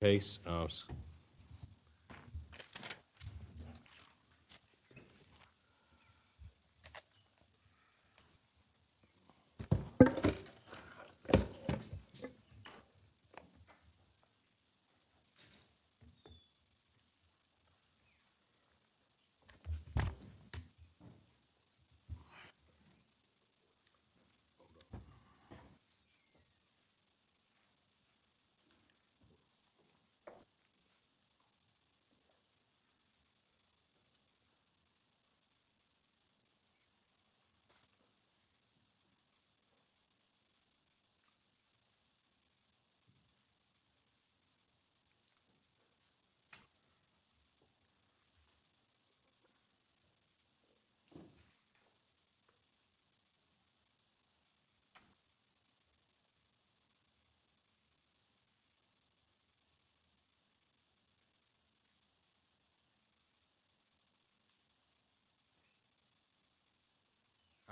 based us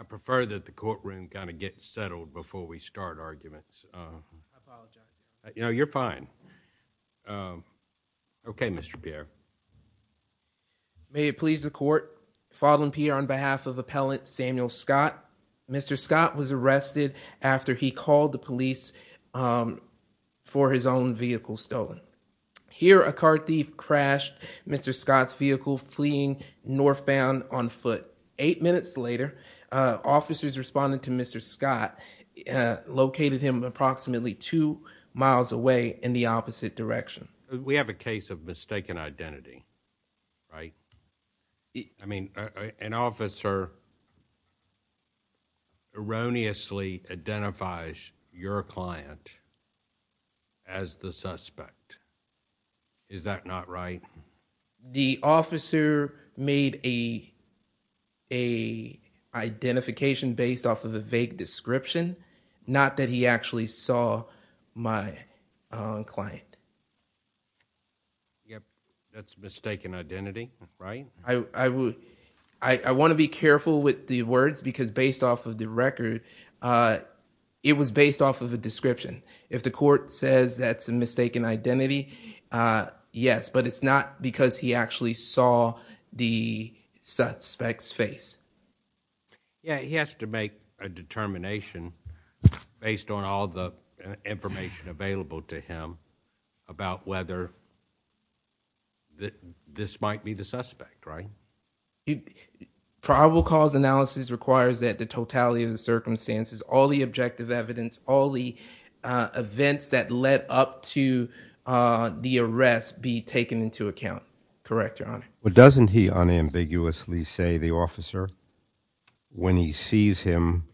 I prefer that the courtroom gotta get settled before we start arguments you know you're fine okay Mr. Pierre. May it please the court Fodlan Pierre on behalf of appellant Samuel Scott. Mr. Scott was arrested after he called the police for his own vehicle stolen. Here a car thief crashed Mr. Scott's vehicle fleeing northbound on foot. Eight minutes later officers responded to Mr. Scott located him approximately two miles away in the opposite direction. We have a case of mistaken identity right I mean an officer erroneously identifies your client as the suspect is that not right the officer made a a identification based off of a vague description not that he actually saw my client yep that's mistaken identity right I would I want to be careful with the words because based off of the record it was based off of a description if the court says that's a mistaken identity yes but it's not because he actually saw the suspect's face yeah he has to make a determination based on all the information available to him about whether that this might be the suspect right probable cause analysis requires that the totality of the circumstances all the objective evidence all the events that led up to the arrest be taken into account correct your honor but doesn't he unambiguously say the officer when he sees him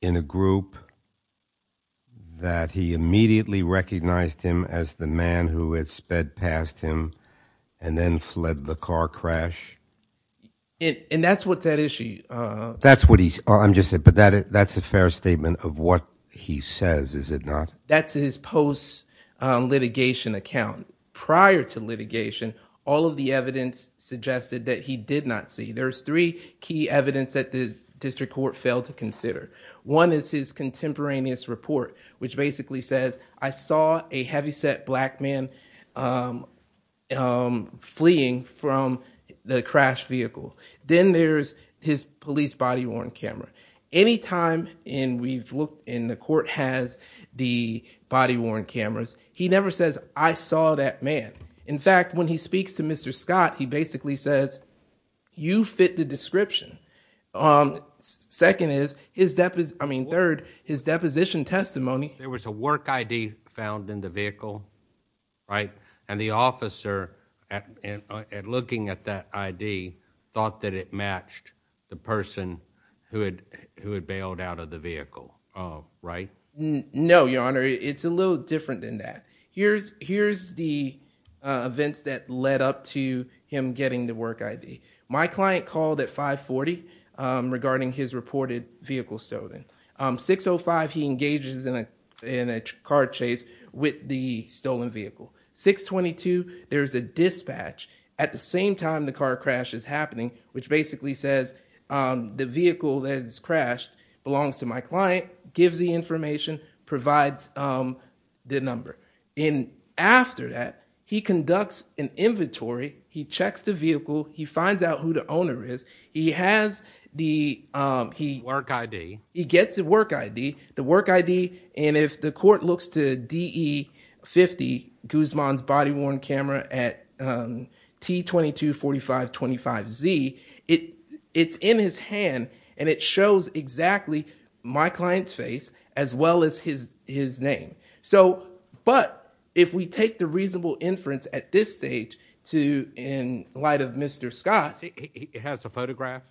in a group that he immediately recognized him as the man who had sped past him and then fled the car crash and that's what's at issue that's what he's just said but that it that's a fair statement of what he says is it not that's his post litigation account prior to litigation all of the evidence suggested that he did not see there's three key evidence that the district court failed to consider one is his contemporaneous report which basically says I saw a heavyset black man fleeing from the crash vehicle then there's his police body-worn camera anytime in we've looked in the court has the body-worn cameras he never says I saw that man in fact when he speaks to mr. Scott he basically says you fit the second is his depth is I mean third his deposition testimony there was a work ID found in the vehicle right and the officer and looking at that ID thought that it matched the person who had who had bailed out of the vehicle right no your honor it's a little different than that here's here's the events that led up to him getting the work ID my client called at 540 regarding his reported vehicle stolen 605 he engages in a in a car chase with the stolen vehicle 622 there's a dispatch at the same time the car crash is happening which basically says the vehicle that is crashed belongs to my client gives the information provides the number in after that he conducts an inventory he checks the vehicle he finds out who the owner is he has the he work ID he gets the work ID the work ID and if the court looks to de 50 Guzman's body-worn camera at T 22 45 25 Z it it's in his hand and it shows exactly my client's face as well as his his name so but if we take the reasonable inference at this stage to in light of mr. Scott he has a photograph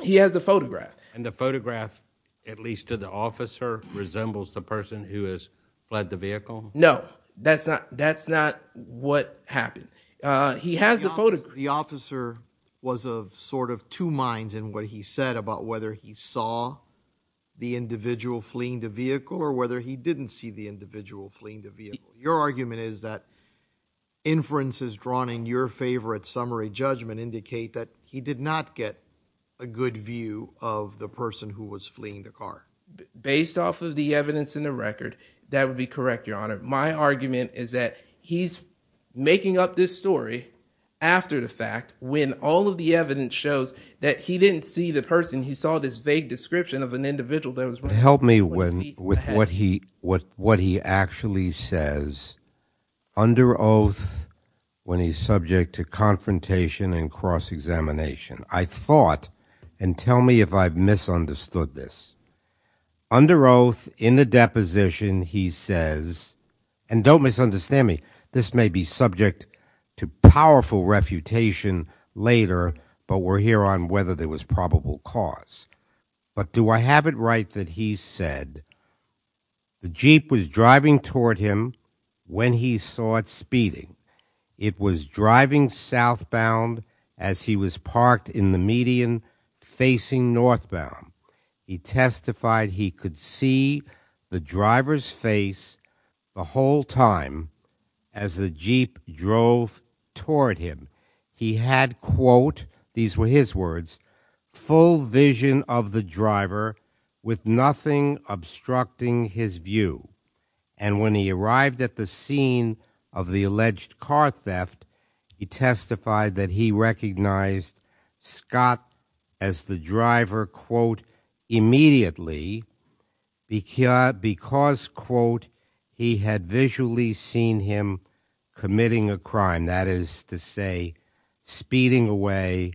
he has the photograph and the photograph at least to the officer resembles the person who has fled the vehicle no that's not that's not what happened he has the photo the officer was a sort of two minds and what he said about whether he saw the individual fleeing the vehicle or whether he didn't see the individual fleeing the vehicle your argument is that inferences drawn in your favorite summary judgment indicate that he did not get a good view of the person who was fleeing the car based off the evidence in the record that would be correct your honor my argument is that he's making up this story after the fact when all of the evidence shows that he didn't see the person he saw this vague description of an individual that was going to help me win with what he what what he actually says under oath when he's subject to confrontation and cross-examination I thought and tell me if I've misunderstood this under oath in the deposition he says and don't misunderstand me this may be subject to powerful refutation later but we're here on whether there was probable cause but do I have it right that he said the Jeep was driving toward him when he saw it speeding it was driving southbound as he was parked in the median facing northbound he testified he could see the driver's face the whole time as the Jeep drove toward him he had quote these were his words full vision of the driver with nothing obstructing his view and when he arrived at the scene of the alleged car theft he testified that he recognized Scott as the driver quote immediately because quote he had visually seen him committing a crime that is to say speeding away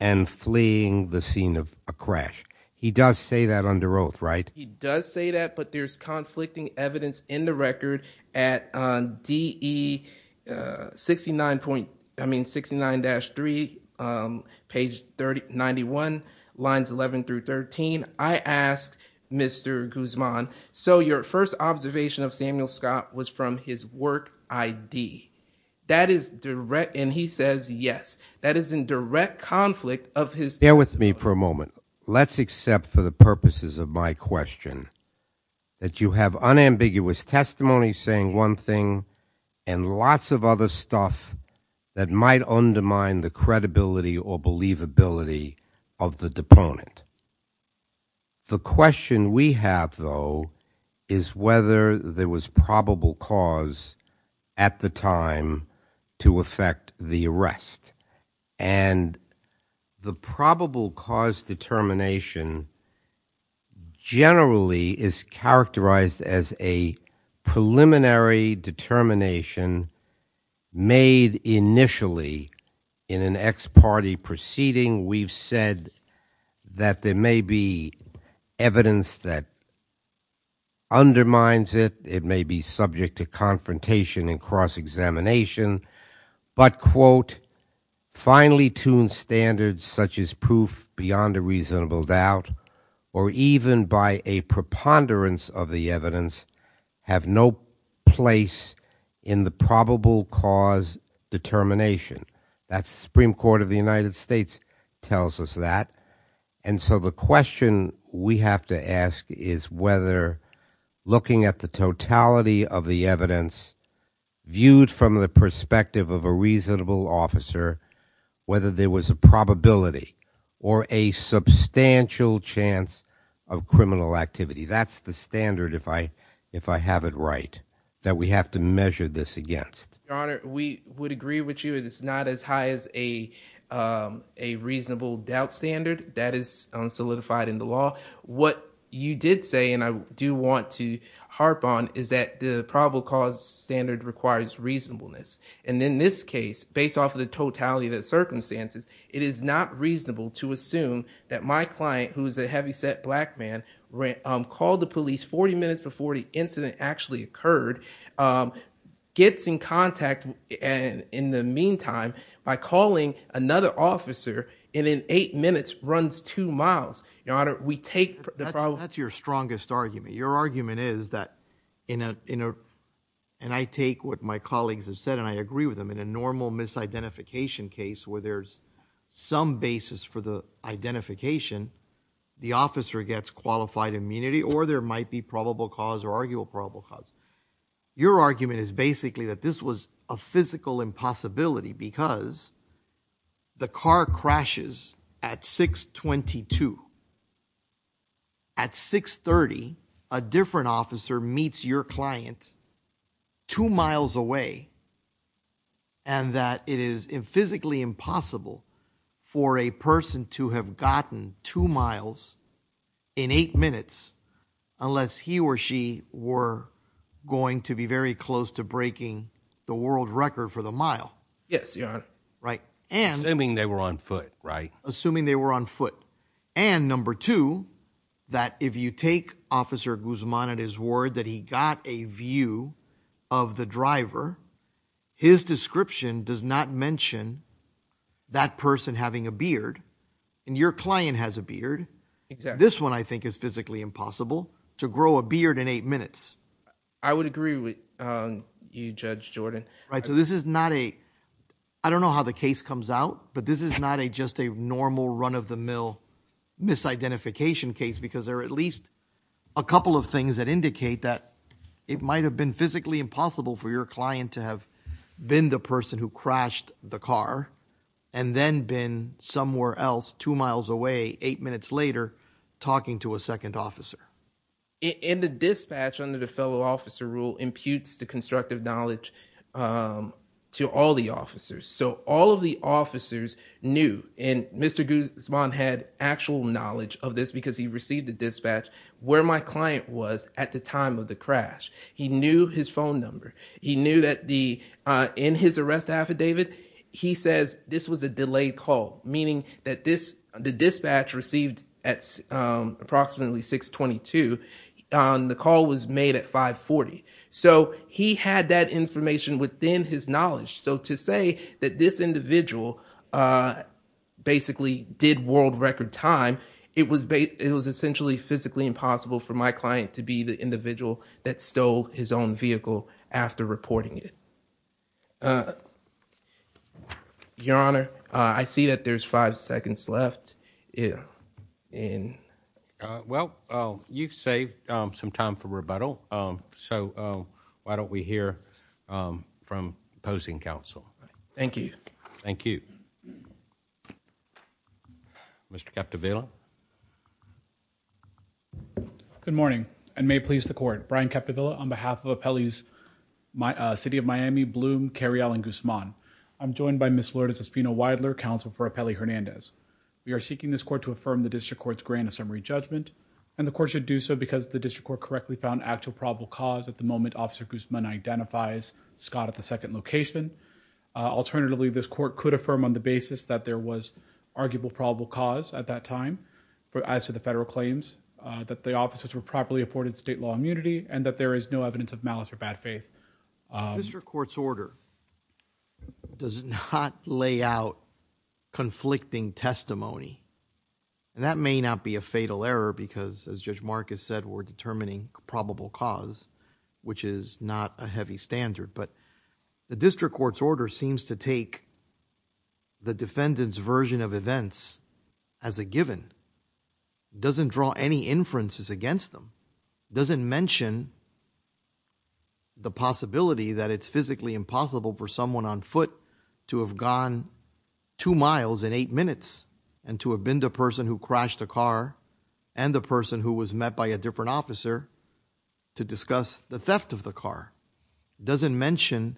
and fleeing the scene of a crash he does say that under oath right he does say that but there's conflicting evidence in the record at DE 69 point I mean 69-3 page 30 91 lines 11 through 13 I asked mr. Guzman so your first observation of Samuel Scott was from his work ID that is direct and he says yes that is in direct conflict of his bear with me for a moment let's accept for the purposes of my question that you have unambiguous testimony saying one thing and lots of other stuff that might undermine the credibility or believability of the deponent the question we have though is whether there was probable cause at the time to affect the arrest and the probable cause determination generally is characterized as a preliminary determination made initially in an ex party proceeding we've said that there may be evidence that undermines it it may be subject to confrontation and cross-examination but quote finely tuned standards such as proof beyond a reasonable doubt or even by a preponderance of the evidence have no place in the probable cause determination that's Supreme Court of the United States tells us that and so the question we have to ask is whether looking at the totality of the evidence viewed from the perspective of a reasonable officer whether there was a probability or a substantial chance of criminal activity that's the standard if I if I have it right that we have to measure this against we would agree with you it is not as high as a a reasonable doubt standard that is solidified in the law what you did say and I do want to harp on is that the probable cause standard requires reasonableness and in this case based off of the totality of the circumstances it is not reasonable to assume that my client who's a heavyset black man called the police 40 minutes before the incident actually occurred gets in contact and in the meantime by calling another officer in in eight minutes runs two miles your honor we take that's your strongest argument your argument is that in a you know and I take what my colleagues have said and I agree with them in a normal misidentification case where there's some basis for the identification the officer gets qualified immunity or there be probable cause or arguable probable cause your argument is basically that this was a physical impossibility because the car crashes at 622 at 630 a different officer meets your client two miles away and that it is in physically impossible for a person to have gotten two miles in eight minutes unless he or she were going to be very close to breaking the world record for the mile yes your honor right and I mean they were on foot right assuming they were on foot and number two that if you take officer Guzman at his word that he got a view of the driver his description does not mention that person having a beard and your client has a beard this one I think is physically impossible to grow a beard in eight minutes I would agree with you judge Jordan right so this is not a I don't know how the case comes out but this is not a just a normal run of the mill misidentification case because there are at least a couple of things that indicate that it might have been physically impossible for your client to have been the person who crashed the car and then been somewhere else two miles away eight minutes later talking to a second officer in the dispatch under the fellow officer rule imputes the constructive knowledge to all the officers so all of the officers knew in Mr. Guzman had actual knowledge of this because he received the dispatch where my client was at the time of the crash he knew his phone number he knew that the in his arrest affidavit he says this was a delayed call meaning that this the dispatch received at approximately 622 on the call was made at 540 so he had that information within his knowledge so to say that this individual basically did world record time it was bait it was essentially physically impossible for my client to be the individual that stole his own vehicle after reporting it your honor I see that there's five seconds left yeah in well you've saved some time for rebuttal so why don't we hear from opposing counsel thank you thank you mr. captavela good morning and may please the court Brian captavela on behalf of a Pele's my city of Miami bloom carry Alan Guzman I'm joined by miss Lourdes Espino Weidler counsel for a Pele Hernandez we are seeking this court to affirm the district courts grant a summary judgment and the court should do so because the district court correctly found actual probable cause at the moment officer Guzman identifies Scott at the second location alternatively this court could affirm on the basis that there was arguable probable cause at that time but as to the federal claims that the officers were properly afforded state law immunity and that there is no evidence of malice or bad faith mr. court's order does not lay out conflicting testimony and that may not be a fatal error because as judge Marcus said we're determining probable cause which is not a heavy standard but the district court's order seems to take the defendants version of events as a given doesn't draw any inferences against them doesn't mention the possibility that it's physically impossible for someone on foot to have gone two miles in eight minutes and to have been the person who crashed a car and the person who was met by a different officer to discuss the theft of the car doesn't mention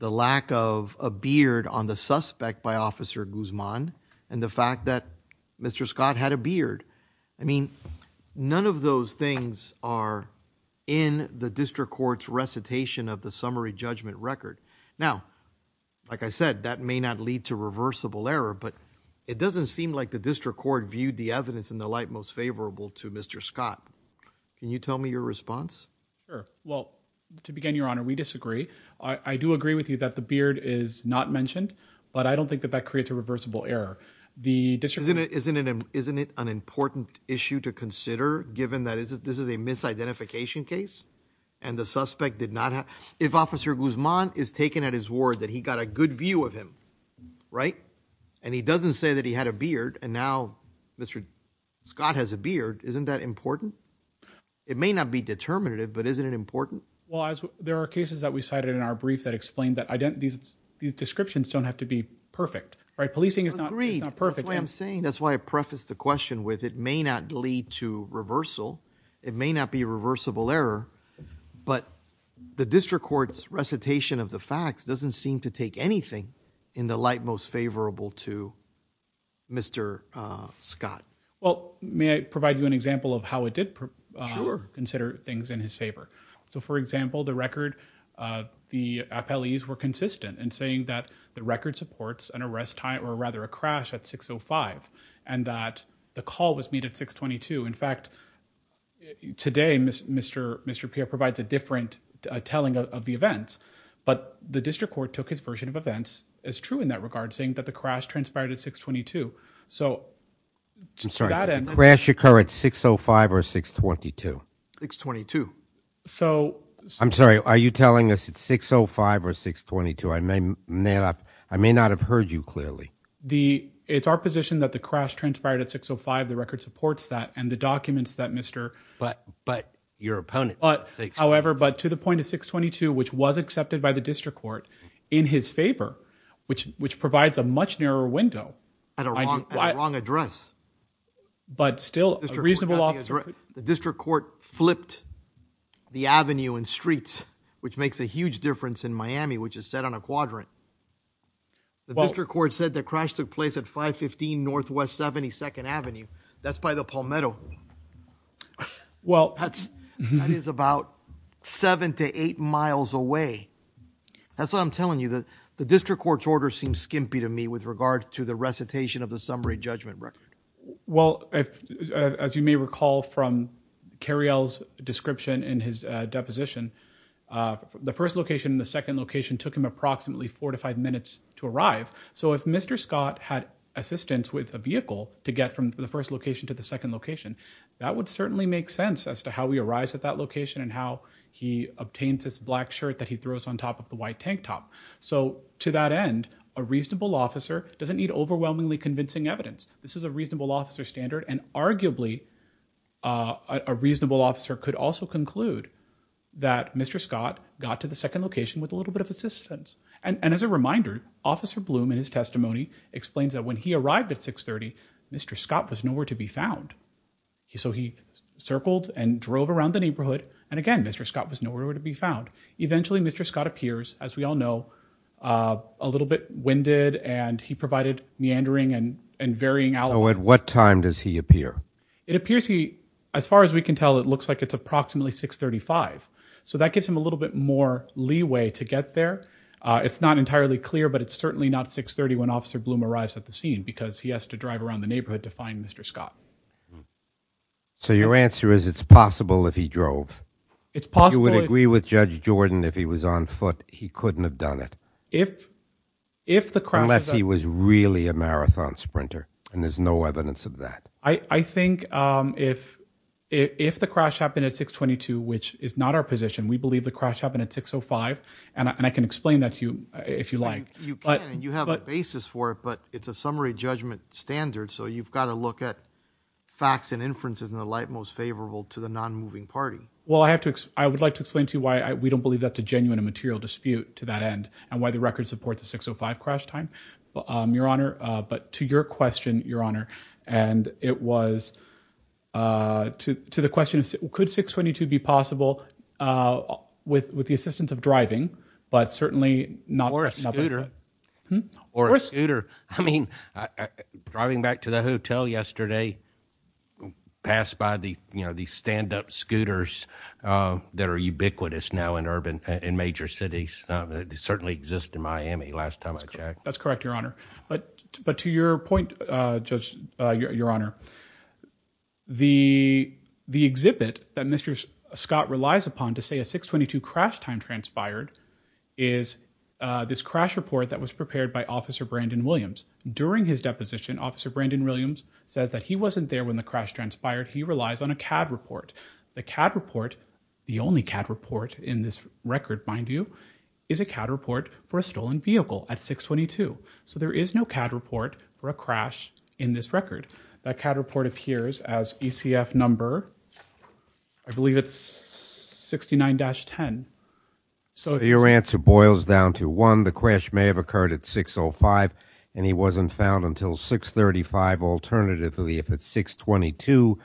the lack of a beard on the suspect by officer Guzman and the fact that mr. Scott had a beard I mean none of those things are in the district courts recitation of the summary judgment record now like I said that may not lead to reversible error but it doesn't seem like the district court viewed the in the light most favorable to mr. Scott can you tell me your response well to begin your honor we disagree I do agree with you that the beard is not mentioned but I don't think that that creates a reversible error the district isn't it isn't it isn't it an important issue to consider given that is this is a misidentification case and the suspect did not have if officer Guzman is taken at his ward that he got a good view of him right and he doesn't say that he had a beard and now mr. Scott has a beard isn't that important it may not be determinative but isn't it important well as there are cases that we cited in our brief that explained that I don't these these descriptions don't have to be perfect right policing is not a perfect way I'm saying that's why I prefaced the question with it may not lead to reversal it may not be a reversible error but the district courts recitation of the facts doesn't seem to take anything in the light most favorable to mr. Scott well may I provide you an example of how it did consider things in his favor so for example the record the appellees were consistent and saying that the record supports an arrest time or rather a crash at 605 and that the call was made at 622 in fact today mr. mr. Pierre provides a different telling of the events but the district court took his version of events is true in that regard saying that the crash transpired at 622 so crash occur at 605 or 622 622 so I'm sorry are you telling us it's 605 or 622 I may not I may not have heard you clearly the it's our position that the crash transpired at 605 the record supports that and the documents that mr. but but your opponent but however but to the point of 622 which was accepted by the district court in his favor which which provides a much narrower window at a wrong wrong address but still reasonable officer the district court flipped the Avenue and streets which makes a huge difference in Miami which is set on a quadrant well record said that crash took place at 515 Northwest 72nd Avenue that's by the Palmetto well that's it is about seven to eight miles away that's what I'm telling you that the district court's order seems skimpy to me with regards to the recitation of the summary judgment record well if as you may recall from Carrie L's description in his deposition the first location in the second location took him approximately four to five minutes to arrive so if mr. Scott had assistance with a vehicle to get from the first location to the second location that would certainly make sense as to how we arise at that location and how he obtains this black shirt that he throws on top of the white tank top so to that end a reasonable officer doesn't need overwhelmingly convincing evidence this is a reasonable officer standard and arguably a reasonable officer could also conclude that mr. Scott got to the second location with a little bit of assistance and and as a reminder officer bloom in his testimony explains that when he arrived at 630 mr. Scott was nowhere to be found he so he circled and drove around the neighborhood and again mr. Scott was nowhere to be found eventually mr. Scott appears as we all know a little bit winded and he provided meandering and and varying how at what time does he appear it appears he as far as we can tell it looks like it's approximately 635 so that gives him a little bit more leeway to get there it's not entirely clear but it's certainly not 631 officer bloom arrives at the scene because he has to drive around the neighborhood to find mr. Scott so your answer is it's possible if he drove it's possible we would agree with judge Jordan if he was on foot he couldn't have done it if if the crash he was really a marathon sprinter and there's no evidence of that I I think if if the crash happened at 622 which is not our position we believe the crash happened at 605 and I can explain that to you if you like but you have a basis for it but it's a summary judgment standard so you've got to look at facts and inferences in the light most favorable to the non-moving party well I have to I would like to explain to you why I we don't believe that's a genuine a material dispute to that end and why the record supports a 605 crash time your honor but to your question your honor and it was to the question could 622 be possible with with the assistance of but certainly not or a scooter I mean driving back to the hotel yesterday passed by the you know these stand-up scooters that are ubiquitous now in urban in major cities certainly exist in Miami last time I checked that's correct your honor but but to your point judge your honor the the exhibit that mr. Scott relies upon to say a 622 crash time transpired is this crash report that was prepared by officer Brandon Williams during his deposition officer Brandon Williams says that he wasn't there when the crash transpired he relies on a CAD report the CAD report the only CAD report in this record mind you is a CAD report for a stolen vehicle at 622 so there is no CAD report for a believe it's 69-10 so your answer boils down to one the crash may have occurred at 605 and he wasn't found until 635 alternatively if it's 622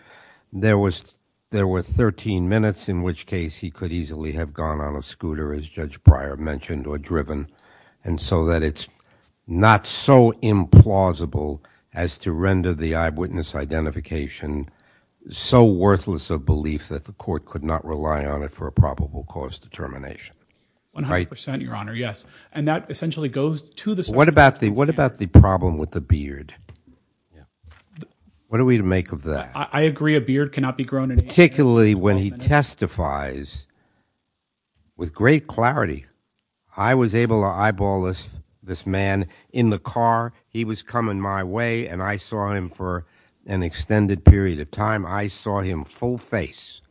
there was there were 13 minutes in which case he could easily have gone on a scooter as judge prior mentioned or driven and so that it's not so implausible as to the eyewitness identification so worthless of belief that the court could not rely on it for a probable cause determination 100% your honor yes and that essentially goes to the what about the what about the problem with the beard what are we to make of that I agree a beard cannot be grown in particularly when he testifies with great clarity I was able to eyeball this man in the car he was coming my way and I saw him for an extended period of time I saw him full face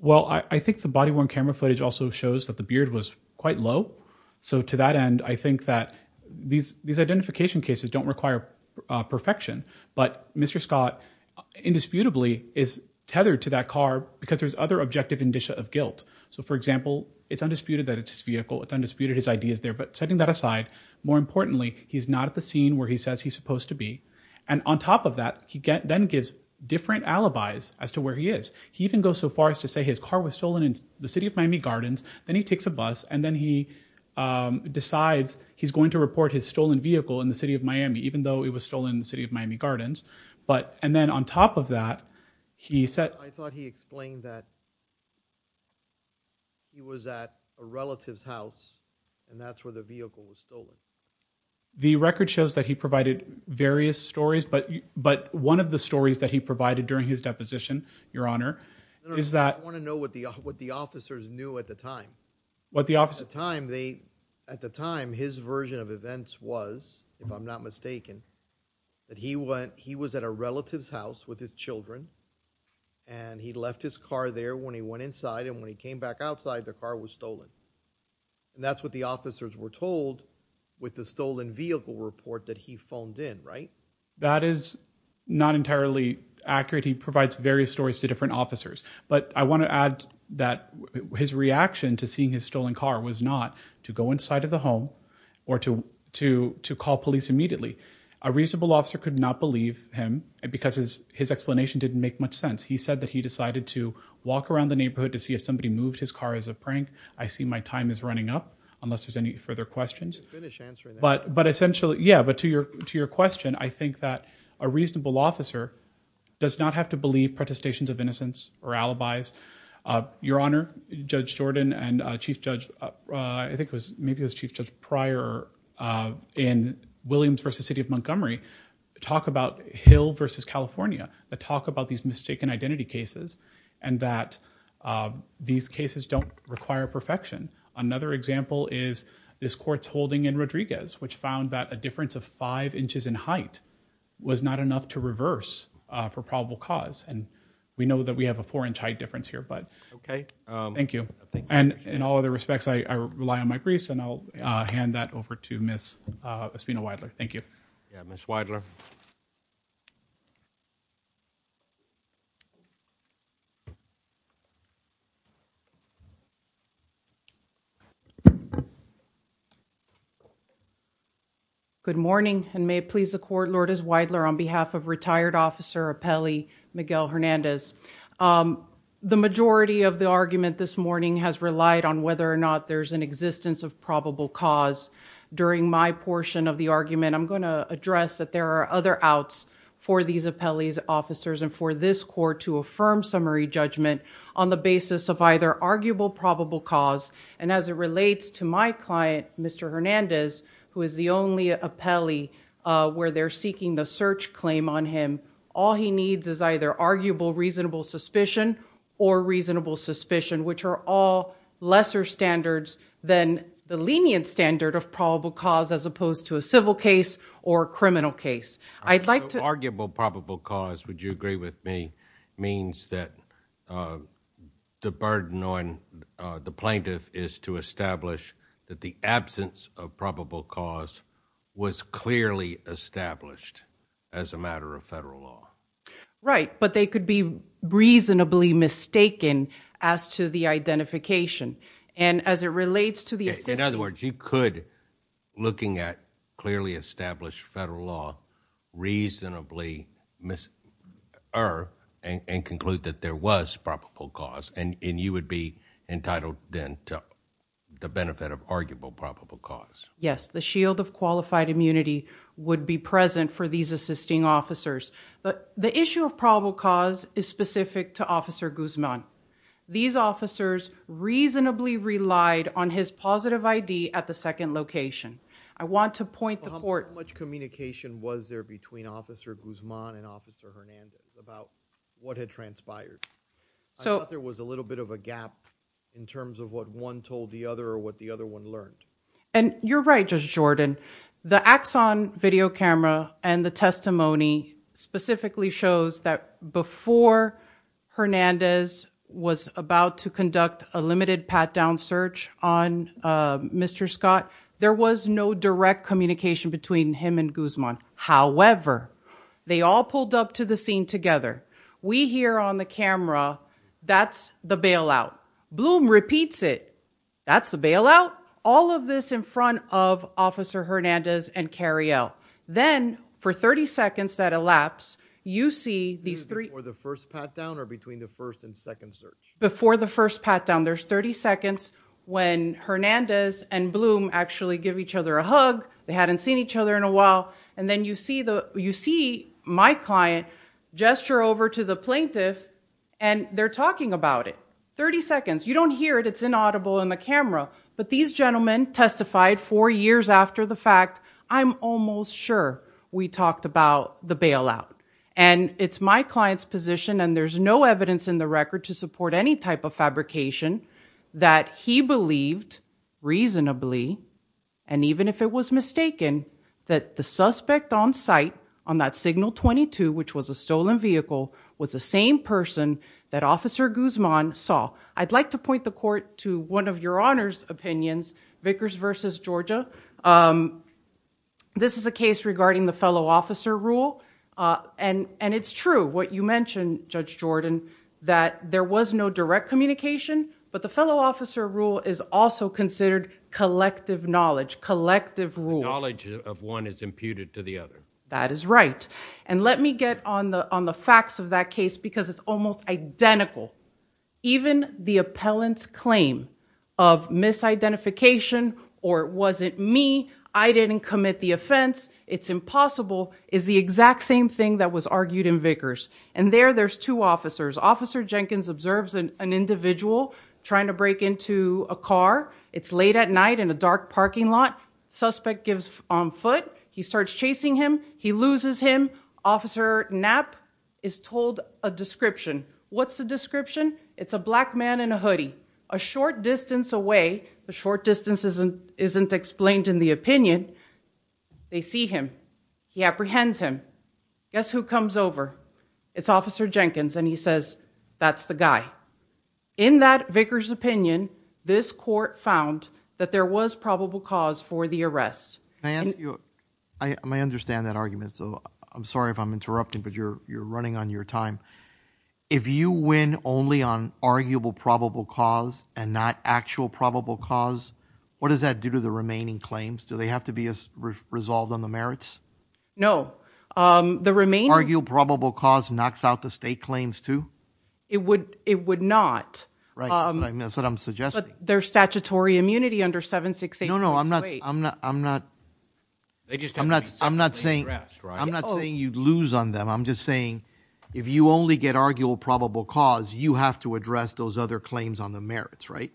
well I think the body-worn camera footage also shows that the beard was quite low so to that end I think that these these identification cases don't require perfection but mr. Scott indisputably is tethered to that car because there's other objective indicia of guilt so for example it's undisputed that it's his vehicle it's undisputed his ideas there but setting that aside more importantly he's not at the scene where he says he's supposed to be and on top of that he get then gives different alibis as to where he is he even goes so far as to say his car was stolen in the city of Miami Gardens then he takes a bus and then he decides he's going to report his stolen vehicle in the city of Miami even though it was stolen in the city of Miami Gardens but and then on top of that he said I thought he explained that he was at a relative's house and that's where the vehicle was stolen the record shows that he provided various stories but but one of the stories that he provided during his deposition your honor is that I want to know what the what the officers knew at the time what the officer time they at the time his version of events was if not mistaken that he went he was at a relative's house with his children and he left his car there when he went inside and when he came back outside the car was stolen and that's what the officers were told with the stolen vehicle report that he phoned in right that is not entirely accurate he provides various stories to different officers but I want to add that his reaction to seeing his stolen car was not to go inside of the home or to to call police immediately a reasonable officer could not believe him because his his explanation didn't make much sense he said that he decided to walk around the neighborhood to see if somebody moved his car as a prank I see my time is running up unless there's any further questions but but essentially yeah but to your to your question I think that a reasonable officer does not have to believe protestations of innocence or alibis your honor judge Jordan and chief judge I think was maybe as chief judge prior in Williams versus City of Montgomery talk about Hill versus California the talk about these mistaken identity cases and that these cases don't require perfection another example is this courts holding in Rodriguez which found that a difference of five inches in height was not enough to reverse for probable cause and we know that we have a four inch height difference here but okay thank you and in all other respects I rely on my briefs and I'll hand that over to miss Espino Weidler thank you yeah miss Weidler good morning and may it please the court Lord is Weidler on behalf of retired officer appellee Miguel Hernandez the majority of the argument this morning has relied on whether or not there's an existence of probable cause during my portion of the argument I'm going to address that there are other outs for these appellees officers and for this court to affirm summary judgment on the basis of either arguable probable cause and as it relates to my client mr. Hernandez who is the only appellee where they're seeking the search claim on him all he needs is either arguable reasonable suspicion or reasonable suspicion which are all lesser standards than the lenient standard of probable cause as opposed to a civil case or a criminal case I'd like to arguable probable cause would you agree with me means that the burden on the plaintiff is to establish that the absence of probable cause was clearly established as a matter of federal law right but they could be reasonably mistaken as to the identification and as it relates to the in other words you could looking at clearly established federal law reasonably miss her and conclude that there was probable cause and in you would be entitled then to the benefit of arguable probable cause yes the shield of qualified immunity would be present for these assisting officers but the issue of probable cause is specific to officer Guzman these officers reasonably relied on his positive ID at the second location I want to point the court much communication was there between officer Guzman and officer Hernandez about what had transpired so there was a little bit of a gap in terms of what one told the other or what the other one learned and you're right just Jordan the axon video camera and the testimony specifically shows that before Hernandez was about to conduct a limited pat-down search on mr. Scott there was no direct communication between him and Guzman however they all pulled up to the scene together we here on the camera that's the bailout bloom repeats it that's a bailout all of this in front of officer Hernandez and carry out then for 30 seconds that elapse you see these three or the first pat down or between the first and second search before the first pat down there's 30 seconds when Hernandez and bloom actually give each other a hug they hadn't seen each other in a while and then you see the you see my client gesture over to the plaintiff and they're talking about it 30 seconds you don't hear it it's inaudible in the camera but these gentlemen testified four years after the fact I'm almost sure we talked about the bailout and it's my client's position and there's no evidence in the record to support any type of fabrication that he believed reasonably and even if it was mistaken that the suspect on site on that signal 22 which was a stolen vehicle was the same person that officer Guzman saw I'd like to point the court to one of your honors opinions Vickers versus Georgia this is a case regarding the fellow officer rule and and it's true what you mentioned judge Jordan that there was no direct communication but the fellow officer rule is also considered collective knowledge collective rule knowledge of one is imputed to the other that is right and let me get on the on the facts of that case because it's almost identical even the appellant's claim of misidentification or wasn't me I didn't commit the offense it's impossible is the exact same thing that was argued in Vickers and there there's two officers officer Jenkins observes an individual trying to break into a car it's late at night in a dark parking lot suspect gives on foot he starts chasing him he loses him officer Knapp is told a description what's the description it's a black man in a hoodie a short distance away the short distance isn't isn't explained in the opinion they see him he apprehends him guess who comes over it's officer Jenkins and he says that's the guy in that Vickers opinion this court found that there was probable cause for the arrest and you I understand that argument so I'm sorry if I'm interrupting but you're you're running on your time if you win only on arguable probable cause and not actual probable cause what does that do to the remaining claims do they have to be as resolved on the merits no the remain argue probable cause knocks out the state claims to it would it would not right that's what I'm suggesting their statutory immunity under seven six eight no no I'm not I'm not I'm not they just I'm not I'm not saying I'm not saying you'd lose on them I'm just saying if you only get arguable probable cause you have to address those other claims on the merits right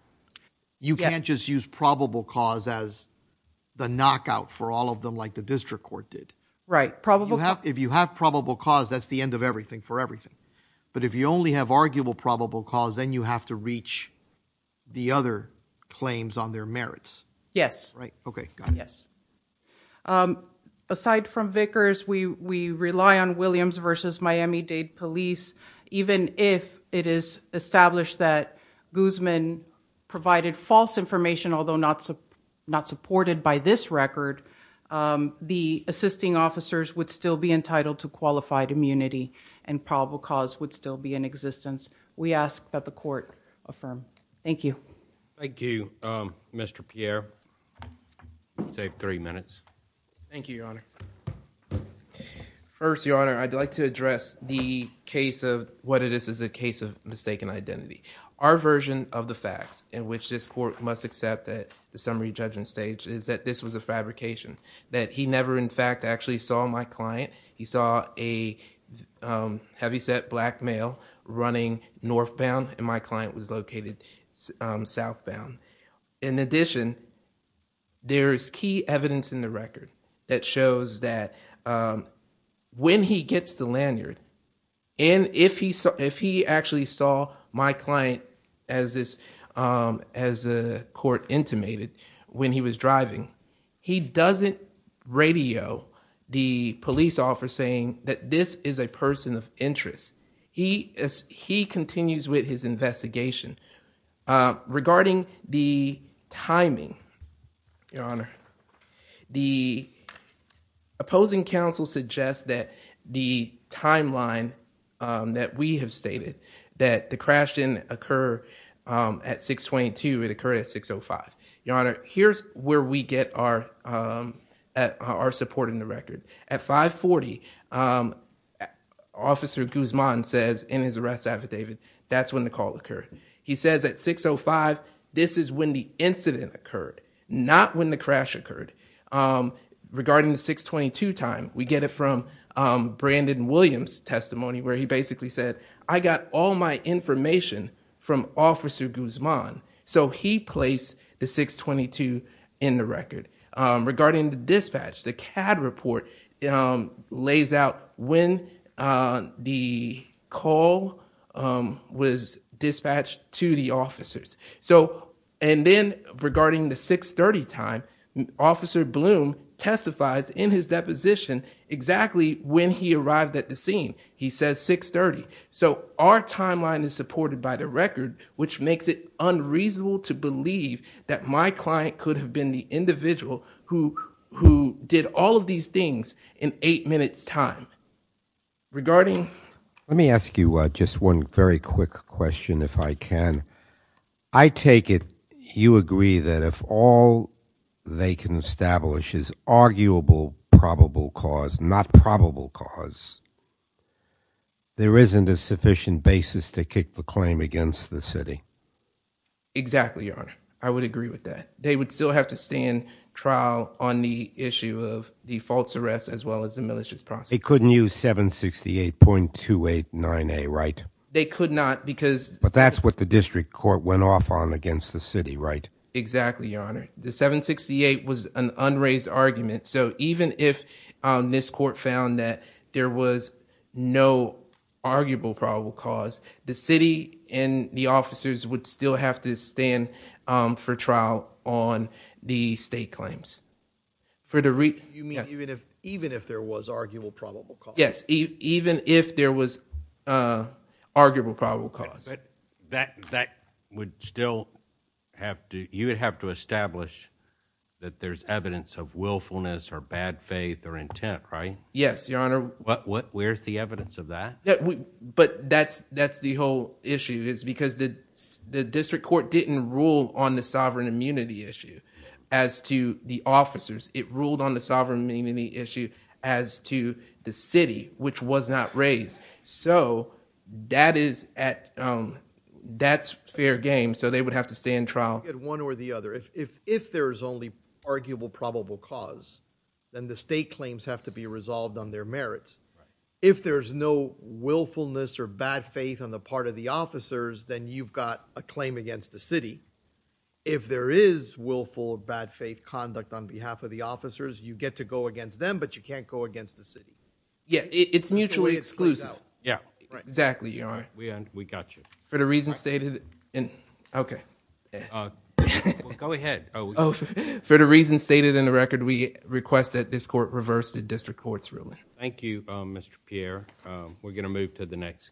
you can't just use probable cause as the knockout for all of them like the district court did right probably if you have probable cause that's the end of everything for everything but if you only have arguable probable cause then you have to reach the other claims on their merits yes right okay yes aside from Vickers we we rely on Williams versus Miami-Dade police even if it is established that Guzman provided false information although not so not supported by this record the assisting officers would still be entitled to qualified immunity and probable cause would still be in existence we ask that the court affirm thank you thank you mr. Pierre save three minutes thank you your honor first your honor I'd like to address the case of what it is is a case of mistaken identity our version of the facts in which this court must accept that the summary judgment stage is that this was a fabrication that he never in fact actually saw my client he saw a heavyset black male running northbound and my client was located southbound in addition there is key evidence in the record that shows that when he gets the lanyard and if he saw if he actually saw my client as this as a court intimated when he was driving he doesn't radio the police officer saying that this is a person of interest he as he continues with his investigation regarding the timing your honor the opposing counsel suggests that the timeline that we have that the crash didn't occur at 622 it occurred at 605 your honor here's where we get our at our support in the record at 540 officer Guzman says in his arrest affidavit that's when the call occurred he says at 605 this is when the incident occurred not when the crash occurred regarding the 622 time we get from Brandon Williams testimony where he basically said I got all my information from officer Guzman so he placed the 622 in the record regarding the dispatch the CAD report lays out when the call was dispatched to the officers so and then regarding the 630 time officer Bloom testifies in his deposition exactly when he arrived at the scene he says 630 so our timeline is supported by the record which makes it unreasonable to believe that my client could have been the individual who who did all of these things in eight minutes time regarding let me ask you what just one very quick question if I can I take it you agree that if all they can establish is arguable probable cause not probable cause there isn't a sufficient basis to kick the claim against the city exactly your honor I would agree with that they would still have to stand trial on the issue of the false arrest as well as the militias process couldn't use 768.289 a right they could not because but that's what the district court went off on against the city right exactly your honor the 768 was an unraised argument so even if this court found that there was no arguable probable cause the city and the officers would still have to stand for trial on the state claims for the reason even if there was arguable probable cause that that would still have to you would have to establish that there's evidence of willfulness or bad faith or intent right yes your honor but what where's the evidence of that that we but that's that's the whole issue is because the district court didn't rule on the sovereign immunity issue as to the officers it ruled on the sovereign meaning the issue as to the city which was not raised so that is at that's fair game so they would have to stay in trial one or the other if if there's only arguable probable cause then the state claims have to be resolved on their merits if there's no willfulness or bad faith on the part of the officers then you've got a claim against the city if there is willful of bad faith conduct on behalf of the officers you get to go but you can't go against the city yeah it's mutually exclusive yeah exactly you're we and we got you for the reason stated and okay go ahead oh for the reason stated in the record we request that this court reverse the district courts ruling thank you mr. Pierre we're gonna move to the next case